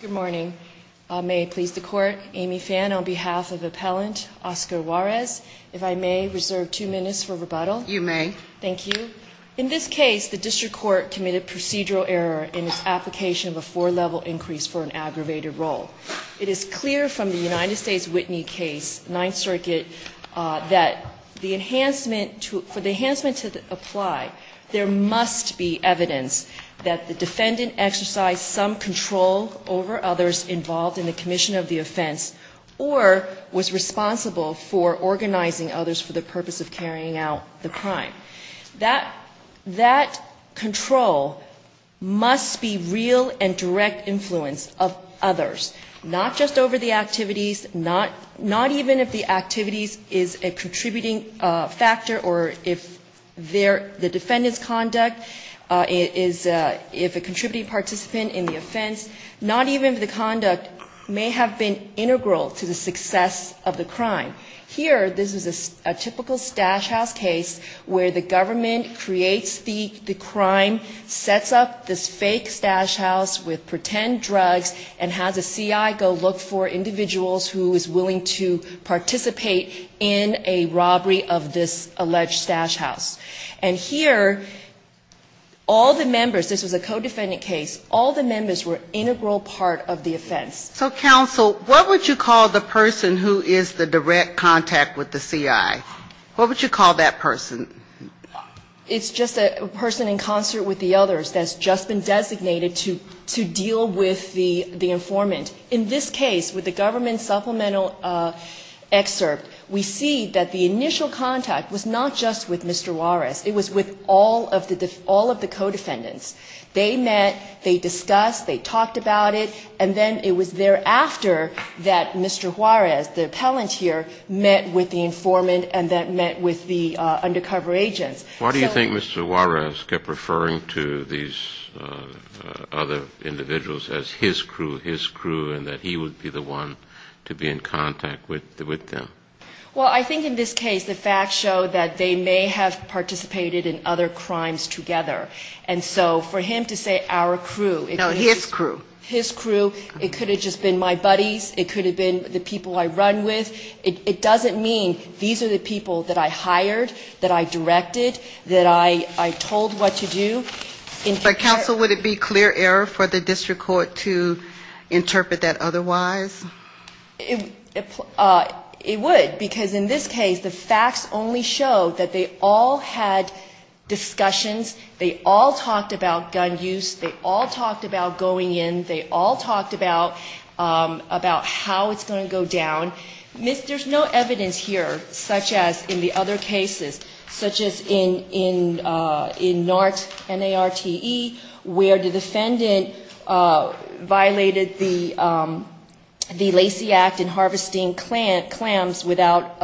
Good morning. May it please the Court, Amy Phan, on behalf of Appellant Oscar Juarez, if I may reserve two minutes for rebuttal. You may. Thank you. In this case, the District Court committed procedural error in its application of a four-level increase for an aggravated role. It is clear from the United States Whitney case, Ninth Circuit, that for the enhancement to apply, there must be evidence that the defendant exercised some control over others involved in the commission of the offense or was responsible for organizing others for the purpose of carrying out the crime. That control must be real and direct influence of others, not just over the activities, not even if the activities is a contributing factor or if the defendant's conduct is a contributing participant in the offense, not even if the conduct may have been integral to the success of the crime. Here, this is a typical stash house case where the government creates the crime, sets up this fake stash house with pretend drugs, and has a C.I. go look for individuals who is willing to participate in a robbery of this alleged stash house. And here, all the members, this was a codefendant case, all the members were integral part of the offense. So, counsel, what would you call the person who is the direct contact with the C.I.? What would you call that person? It's just a person in concert with the others that's just been designated to deal with the informant. In this case, with the government supplemental excerpt, we see that the initial contact was not just with Mr. Juarez. It was with all of the codefendants. They met, they discussed, they talked about it, and then it was thereafter that Mr. Juarez, the appellant here, met with the informant and then met with the undercover agents. Why do you think Mr. Juarez kept referring to these other individuals as his crew, his crew, and that he would be the one to be in contact with them? Well, I think in this case the facts show that they may have participated in other crimes together. And so for him to say our crew... No, his crew. His crew, it could have just been my buddies, it could have been the people I run with, it doesn't mean these are the people that I hired, that I directed, that I told what to do. But, counsel, would it be clear error for the district court to interpret that otherwise? It would, because in this case the facts only show that they all had discussions, they all talked about gun use, they all talked about going in, they all talked about how it's going to go down. There's no evidence here, such as in the other cases, such as in NART, N-A-R-T-E, where the defendant violated the Lacey Act in harvesting clams without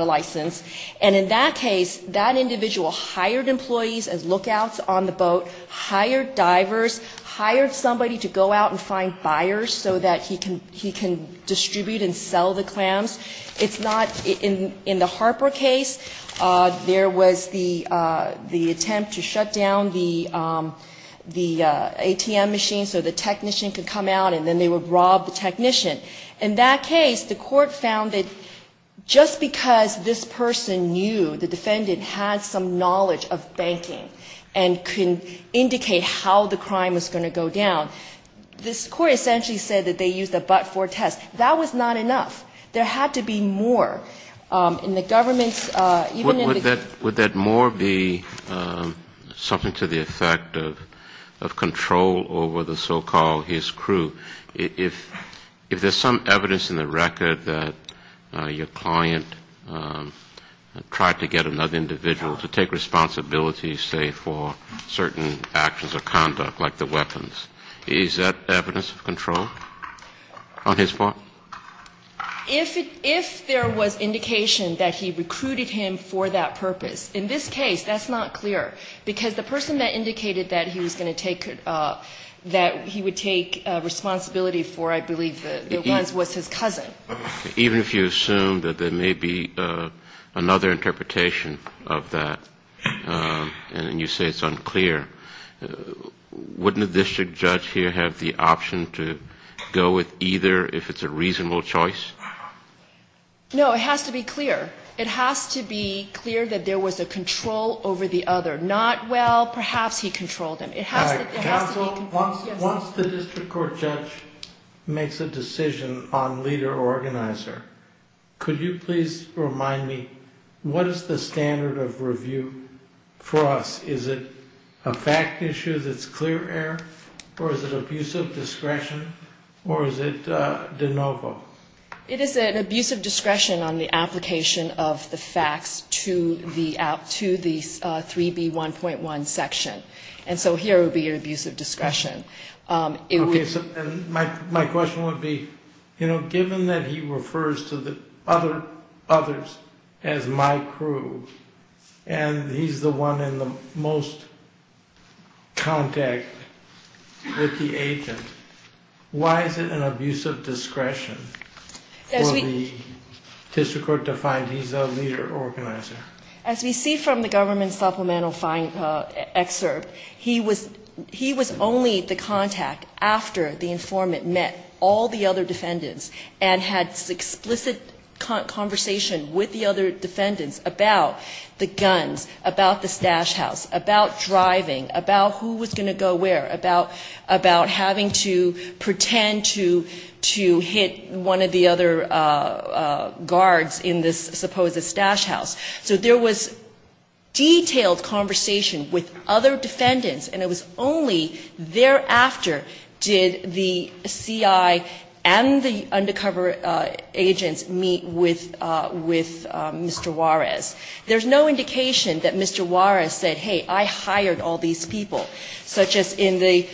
a license. And in that case, that individual hired employees as lookouts on the boat, hired divers, hired somebody to go out and find buyers so that he can distribute and sell the clams. It's not, in the Harper case, there was the attempt to shut down the ATM machine so the technician could come out, and then they would rob the technician. In that case, the court found that just because this person knew, the defendant had some knowledge of banking, and could indicate how the crime was going to go down, this court essentially said that they used a but-for test. That was not enough. There had to be more. In the government's, even in the... Would that more be something to the effect of control over the so-called his crew? If there's some evidence in the record that your client tried to get another individual to take responsibility, say, for certain actions or conduct, like the weapons, is that evidence of control on his part? If there was indication that he recruited him for that purpose, in this case, that's not clear, because the person that indicated that he was going to take, that he would take responsibility for, I believe, was his cousin. Even if you assume that there may be another interpretation of that, and you say it's unclear, wouldn't a district judge here have the option to go with either if it's a reasonable choice? No, it has to be clear. It has to be clear that there was a control over the other. Not, well, perhaps he controlled him. All right. Counsel, once the district court judge makes a decision on leader or organizer, could you please remind me, what is the standard of review for us? Is it a fact issue that's clear error, or is it abuse of discretion, or is it de novo? It is an abuse of discretion on the application of the facts to the 3B1.1 section. And so here would be an abuse of discretion. My question would be, you know, given that he refers to the others as my crew, and he's the one in the most contact with the agent, why is it an abuse of discretion for the district court to find he's a leader or organizer? As we see from the government supplemental excerpt, he was only the contact after the informant met all the other defendants and had explicit conversation with the other defendants about the guns, about the stash house, about driving, about who was going to go where, about having to pretend to hit one of the other guards in this supposed stash house. So there was detailed conversation with other defendants, and it was only thereafter did the CI and the undercover agents meet with Mr. Juarez. There's no indication that Mr. Juarez said, hey, I hired all these people, such as in the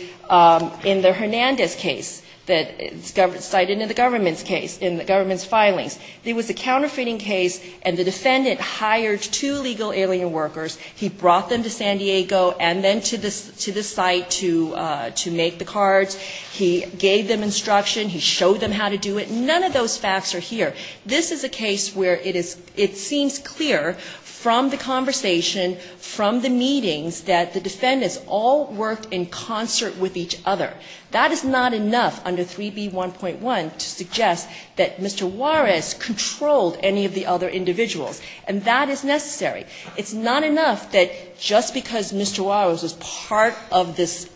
Hernandez case that's cited in the government's case, in the government's filings. There was a counterfeiting case, and the defendant hired two legal alien workers. He brought them to San Diego and then to this site to make the cards. He gave them instruction. He showed them how to do it. None of those facts are here. This is a case where it is ‑‑ it seems clear from the conversation, from the meetings, that the defendants all worked in concert with each other. That is not enough under 3B1.1 to suggest that Mr. Juarez controlled any of the other individuals, and that is necessary. It's not enough that just because Mr. Juarez was part of this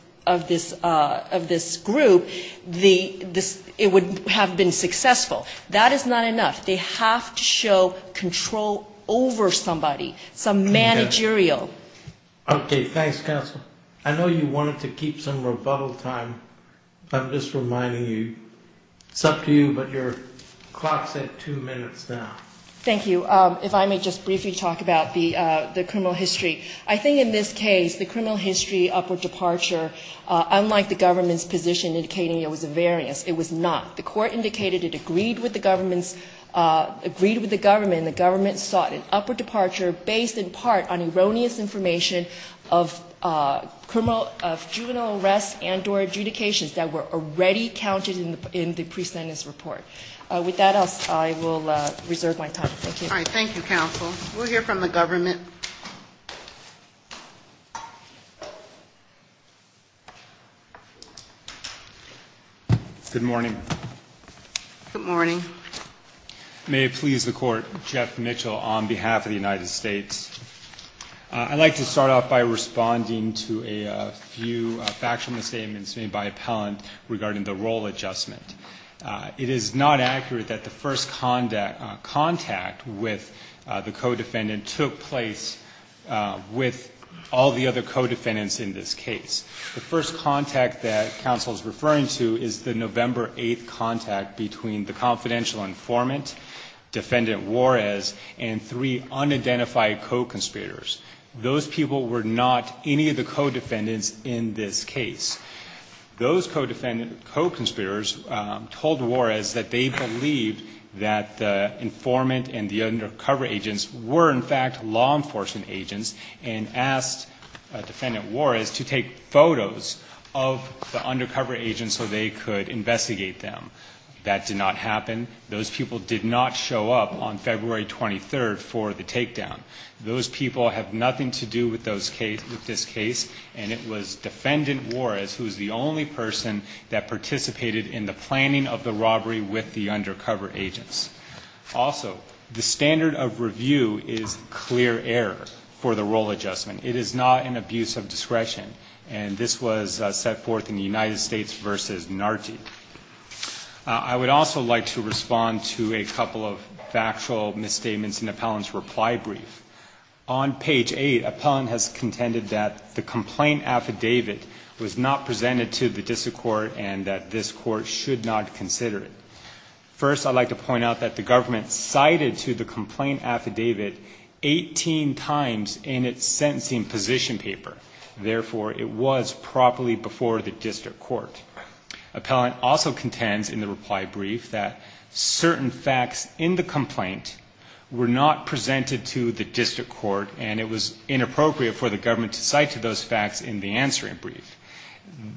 group, it would have been successful. That is not enough. They have to show control over somebody, some managerial. Okay. Thanks, counsel. I know you wanted to keep some rebuttal time. I'm just reminding you, it's up to you, but your clock's at two minutes now. Thank you. If I may just briefly talk about the criminal history. I think in this case, the criminal history upward departure, unlike the government's position indicating it was a variance, it was not. The court indicated it agreed with the government, and the government sought an upward information of criminal ‑‑ of juvenile arrests and or adjudications that were already counted in the pre‑sentence report. With that, I will reserve my time. Thank you. All right. Thank you, counsel. We'll hear from the government. Good morning. Good morning. May it please the court, Jeff Mitchell on behalf of the United States. I'd like to start off by responding to a few factual misstatements made by appellant regarding the role adjustment. It is not accurate that the first contact with the co‑defendant took place with all the other co‑defendants in this case. The first contact that counsel is referring to is the November 8th contact between the co‑conspirators. Those people were not any of the co‑defendants in this case. Those co‑conspirators told Juarez that they believed that the informant and the undercover agents were, in fact, law enforcement agents, and asked defendant Juarez to take photos of the undercover agents so they could investigate them. That did not happen. Those people did not show up on February 23rd for the takedown. Those people have nothing to do with this case, and it was defendant Juarez who is the only person that participated in the planning of the robbery with the undercover agents. Also, the standard of review is clear error for the role adjustment. It is not an abuse of discretion, and this was set forth in the United States v. Narti. I would also like to respond to a couple of factual misstatements in Appellant's reply brief. On page 8, Appellant has contended that the complaint affidavit was not presented to the district court and that this court should not consider it. First, I'd like to point out that the government cited to the complaint affidavit 18 times in its sentencing position paper. Therefore, it was properly before the district court. Appellant also contends in the reply brief that certain facts in the complaint were not presented to the district court, and it was inappropriate for the government to cite to those facts in the answering brief.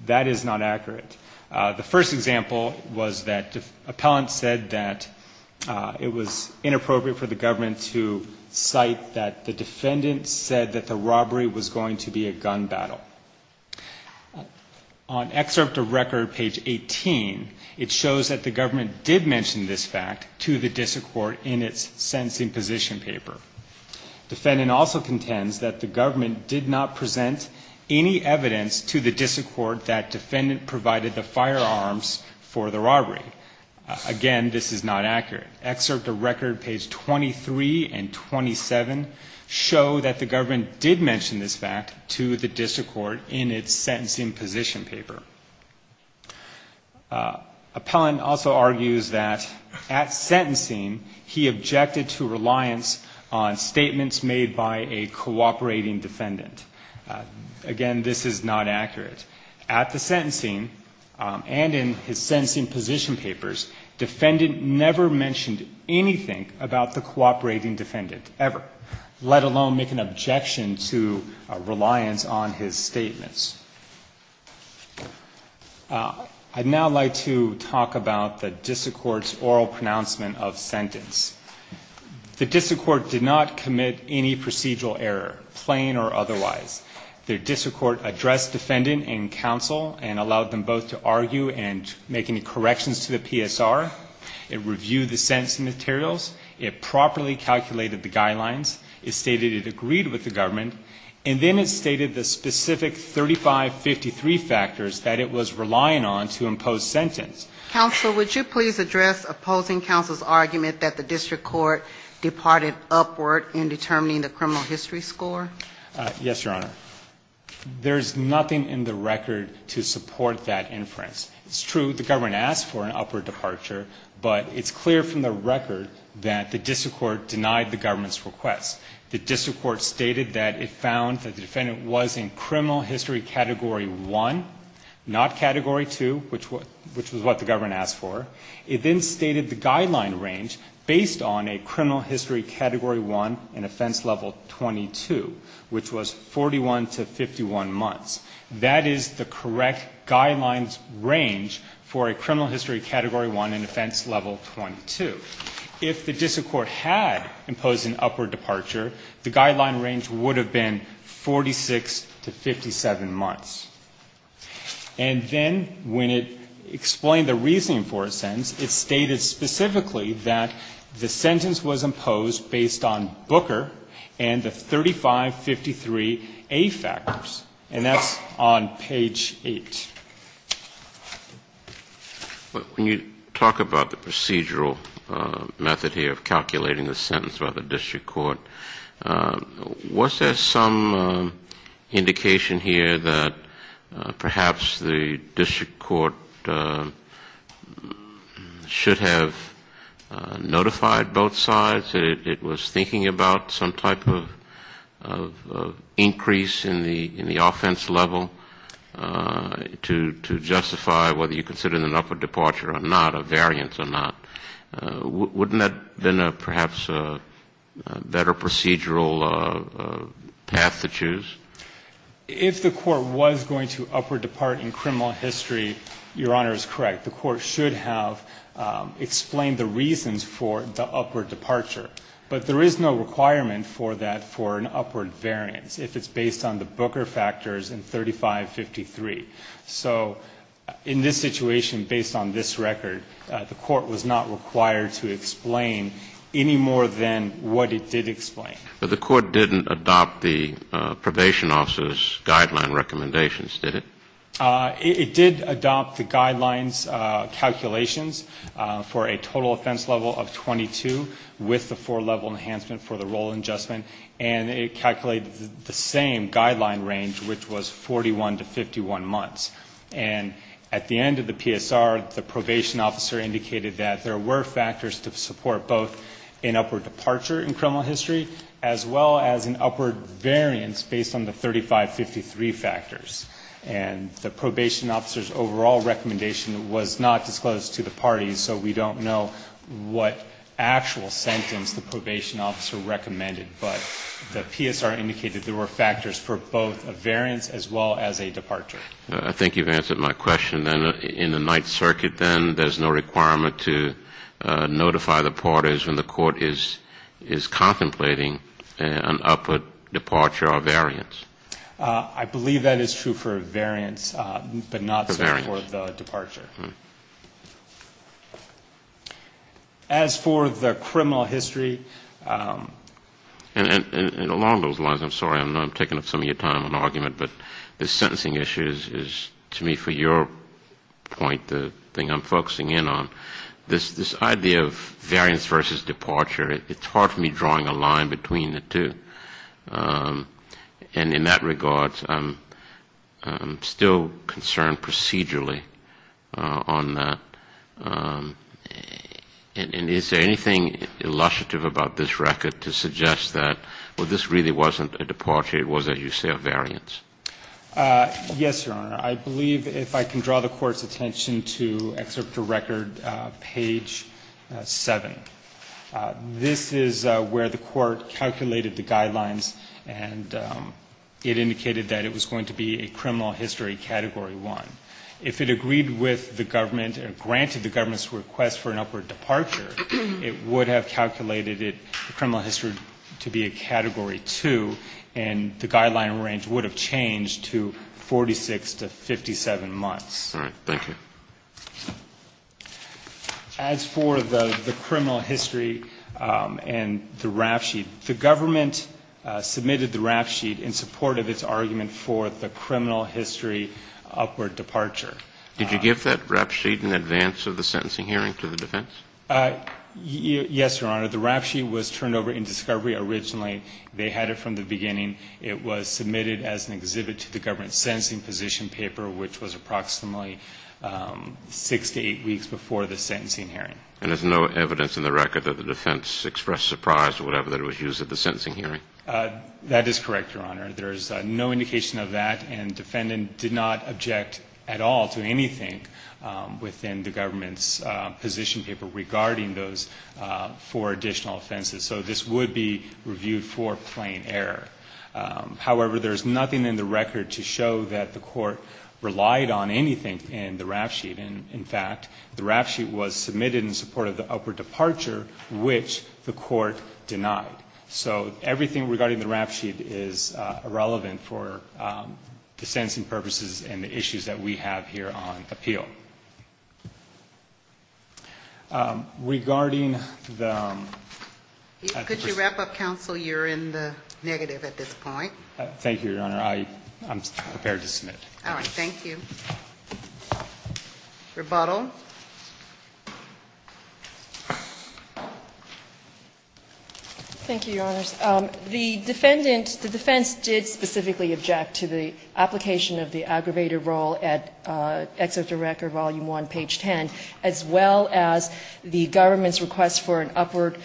That is not accurate. The first example was that Appellant said that it was inappropriate for the government to cite that the defendant said that the robbery was going to be a gun battle. On excerpt of record page 18, it shows that the government did mention this fact to the district court in its sentencing position paper. Defendant also contends that the government did not present any evidence to the district court that defendant provided the firearms for the robbery. Again, this is not accurate. Excerpt of record page 23 and 27 show that the government did mention this fact to the district court in its sentencing position paper. Appellant also argues that at sentencing, he objected to reliance on statements made by a cooperating defendant. Again, this is not accurate. At the sentencing and in his sentencing position papers, defendant never mentioned anything about the cooperating defendant ever, let alone make an objection to reliance on his statements. I'd now like to talk about the district court's oral pronouncement of sentence. The district court did not commit any procedural error, plain or otherwise. The district court addressed defendant and counsel and allowed them both to argue and make any corrections to the PSR. It reviewed the sentencing materials. It properly calculated the guidelines. It stated it agreed with the government. And then it stated the specific 3553 factors that it was relying on to impose sentence. Counsel, would you please address opposing counsel's argument that the district court departed upward in determining the criminal history score? Yes, Your Honor. There's nothing in the record to support that inference. It's true the government asked for an upward departure, but it's clear from the record that the district court denied the government's request. The district court stated that it found that the defendant was in criminal history category 1, not category 2, which was what the government asked for. It then stated the guideline range based on a criminal history category 1 and offense level 22, which was 41 to 51 months. That is the correct guidelines range for a criminal history category 1 and offense level 22. If the district court had imposed an upward departure, the guideline range would have been 46 to 57 months. And then when it explained the reasoning for a sentence, it stated specifically that the sentence was imposed based on Booker and the 3553A factors. And that's on page 8. When you talk about the procedural method here of calculating the sentence by the district court, was there some indication here that perhaps the district court should have notified both sides that it was thinking about some type of increase in the offense level? To justify whether you consider an upward departure or not, a variance or not. Wouldn't that have been perhaps a better procedural path to choose? If the court was going to upward depart in criminal history, Your Honor is correct. The court should have explained the reasons for the upward departure. But there is no requirement for that for an upward variance if it's based on the 3553. So in this situation, based on this record, the court was not required to explain any more than what it did explain. But the court didn't adopt the probation officer's guideline recommendations, did it? It did adopt the guidelines calculations for a total offense level of 22 with the four-level enhancement for the role adjustment. And it calculated the same guideline range, which was 41 to 51 months. And at the end of the PSR, the probation officer indicated that there were factors to support both an upward departure in criminal history as well as an upward variance based on the 3553 factors. And the probation officer's overall recommendation was not disclosed to the parties, so we don't know what actual sentence the probation officer recommended. But the PSR indicated there were factors for both a variance as well as a departure. I think you've answered my question. Then in the Ninth Circuit, then, there's no requirement to notify the parties when the court is contemplating an upward departure or variance. I believe that is true for variance, but not so for the departure. As for the criminal history. And along those lines, I'm sorry, I know I'm taking up some of your time on argument, but the sentencing issue is, to me, for your point, the thing I'm focusing in on, this idea of variance versus departure, it's hard for me drawing a line between the two. And in that regard, I'm still concerned procedurally on that. And is there anything illustrative about this record to suggest that, well, this really wasn't a departure, it was, as you say, a variance? Yes, Your Honor. I believe if I can draw the Court's attention to Excerpt to Record, page 7. This is where the Court calculated the guidelines, and it indicated that it was going to be a criminal history Category 1. If it agreed with the government and granted the government's request for an upward departure, it would have calculated it, the criminal history, to be a Category 2, and the guideline range would have changed to 46 to 57 months. All right. Thank you. As for the criminal history and the rap sheet, the government submitted the rap sheet in support of its argument for the criminal history upward departure. Did you give that rap sheet in advance of the sentencing hearing to the defense? Yes, Your Honor. The rap sheet was turned over in discovery originally. They had it from the beginning. It was submitted as an exhibit to the government's sentencing position paper, which was approximately six to eight weeks before the sentencing hearing. And there's no evidence in the record that the defense expressed surprise or whatever that was used at the sentencing hearing? That is correct, Your Honor. There is no indication of that, and the defendant did not object at all to anything within the government's position paper regarding those four additional offenses. So this would be reviewed for plain error. However, there is nothing in the record to show that the court relied on anything in the rap sheet. In fact, the rap sheet was submitted in support of the upward departure, which the court denied. So everything regarding the rap sheet is irrelevant for the sentencing purposes and the issues that we have here on appeal. Regarding the ---- Could you wrap up, counsel? You're in the negative at this point. Thank you, Your Honor. I'm prepared to submit. All right. Thank you. Rebuttal. Thank you, Your Honors. The defendant, the defense did specifically object to the application of the aggravated role at excerpt of record, volume one, page 10, as well as the government's request for an upward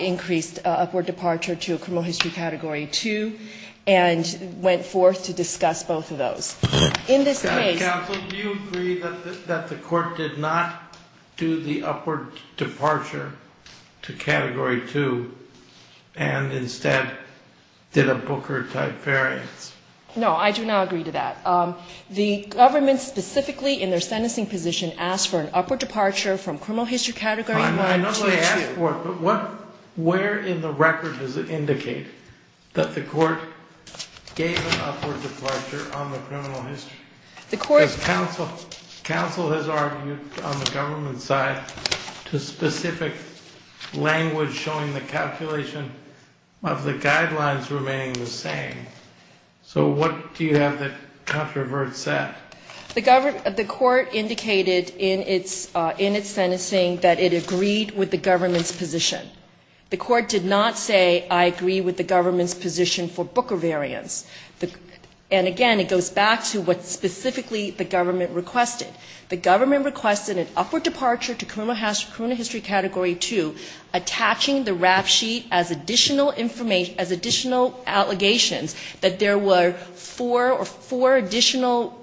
increased, upward departure to a criminal history category 2, and went forth to discuss both of those. In this case ---- Counsel, do you agree that the court did not do the upward departure to category 2 and instead did a Booker type variance? No, I do not agree to that. The government specifically in their sentencing position asked for an upward departure from criminal history category 1 to 2. I'm not going to ask for it, but where in the record does it indicate that the court gave an upward departure on the criminal history? The court ---- Counsel has argued on the government side to specific language showing the calculation of the guidelines remaining the same. So what do you have that controverts that? The court indicated in its sentencing that it agreed with the government's position. The court did not say, I agree with the government's position for Booker variance. And again, it goes back to what specifically the government requested. The government requested an upward departure to criminal history category 2, attaching the rap sheet as additional information, as additional allegations that there were four or four additional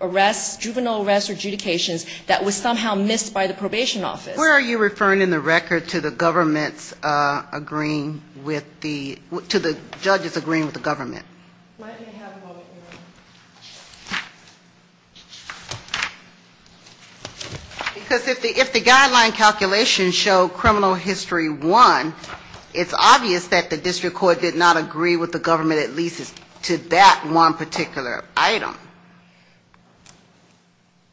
arrests, juvenile arrests or adjudications that was somehow missed by the probation office. Where are you referring in the record to the government's agreeing with the ---- to the judge's agreeing with the government? Let me have a moment here. Because if the guideline calculations show criminal history 1, it's obvious that the district court did not agree with the government at least to that one particular item.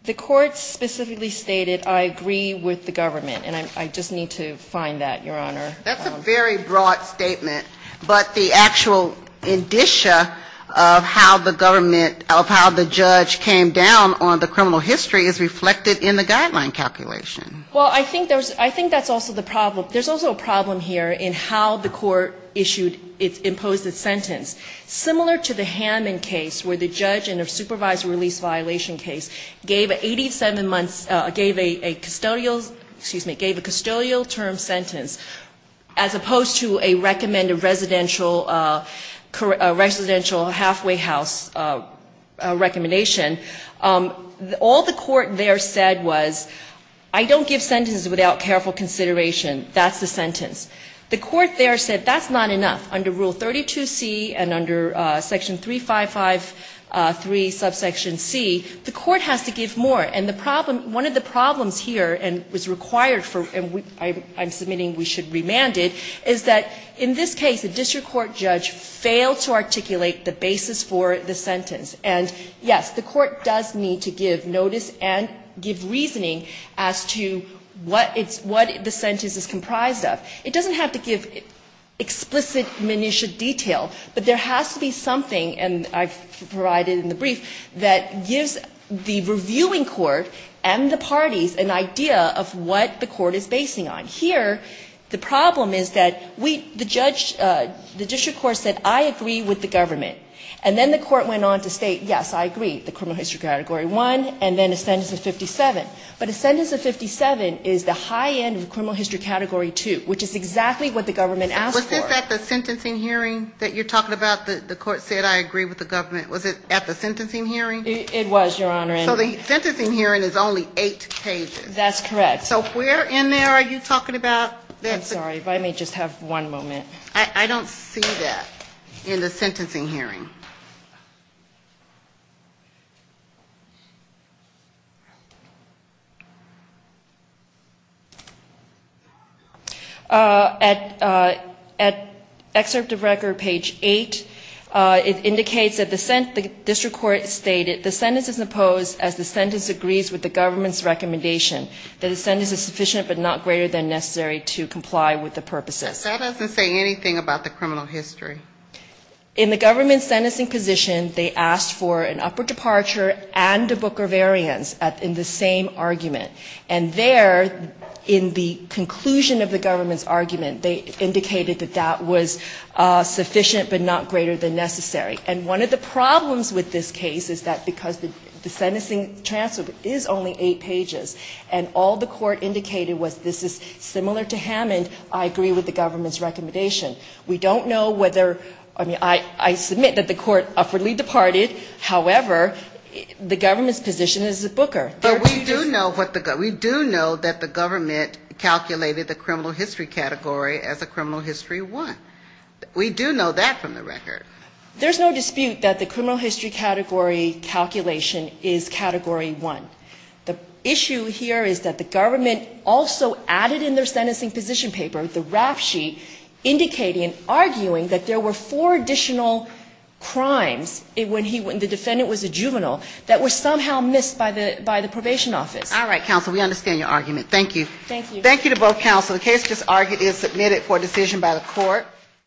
The court specifically stated, I agree with the government. And I just need to find that, Your Honor. That's a very broad statement. But the actual indicia of how the government, of how the judge came down on the criminal history is reflected in the guideline calculation. Well, I think there's, I think that's also the problem. There's also a problem here in how the court issued, imposed its sentence. Similar to the Hammond case where the judge in a supervised release violation case gave 87 months, gave a custodial, excuse me, gave a custodial term sentence as opposed to a recommended residential, residential halfway house recommendation. All the court there said was I don't give sentences without careful consideration. That's the sentence. The court there said that's not enough. Under Rule 32C and under Section 3553 subsection C, the court has to give more. And the problem, one of the problems here and was required for, and I'm submitting we should remand it, is that in this case a district court judge failed to articulate the basis for the sentence. And, yes, the court does need to give notice and give reasoning as to what it's, what the sentence is comprised of. It doesn't have to give explicit minutia detail, but there has to be something, and I've provided in the brief, that gives the reviewing court and the parties an idea of what the court is basing on. Here the problem is that we, the judge, the district court said I agree with the government. And then the court went on to state, yes, I agree, the criminal history category one, and then a sentence of 57. But a sentence of 57 is the high end of the criminal history category two, which is exactly what the government asked for. Was it at the sentencing hearing that you're talking about that the court said I agree with the government? Was it at the sentencing hearing? It was, Your Honor. So the sentencing hearing is only eight pages. That's correct. So where in there are you talking about? I'm sorry, but I may just have one moment. I don't see that in the sentencing hearing. At excerpt of record, page eight, it indicates that the district court stated the sentence is opposed as the sentence agrees with the government's recommendation that the sentence is sufficient but not greater than necessary to comply with the purposes. That doesn't say anything about the criminal history. In the government sentencing position, they asked for an upper departure and a Booker variance in the same argument. And there, in the conclusion of the government's argument, they indicated that that was sufficient but not greater than necessary. And one of the problems with this case is that because the sentencing transcript is only eight pages, and all the court indicated was this is similar to Hammond, I agree with the government's recommendation. We don't know whether, I mean, I submit that the court upwardly departed. However, the government's position is a Booker. But we do know what the, we do know that the government calculated the criminal history category as a criminal history one. We do know that from the record. There's no dispute that the criminal history category calculation is category one. The issue here is that the government also added in their sentencing position paper the rap sheet indicating, arguing that there were four additional crimes when he, when the defendant was a juvenile that were somehow missed by the, by the probation office. All right, counsel, we understand your argument. Thank you. Thank you. Thank you to both counsel. The case just argued is submitted for decision by the court.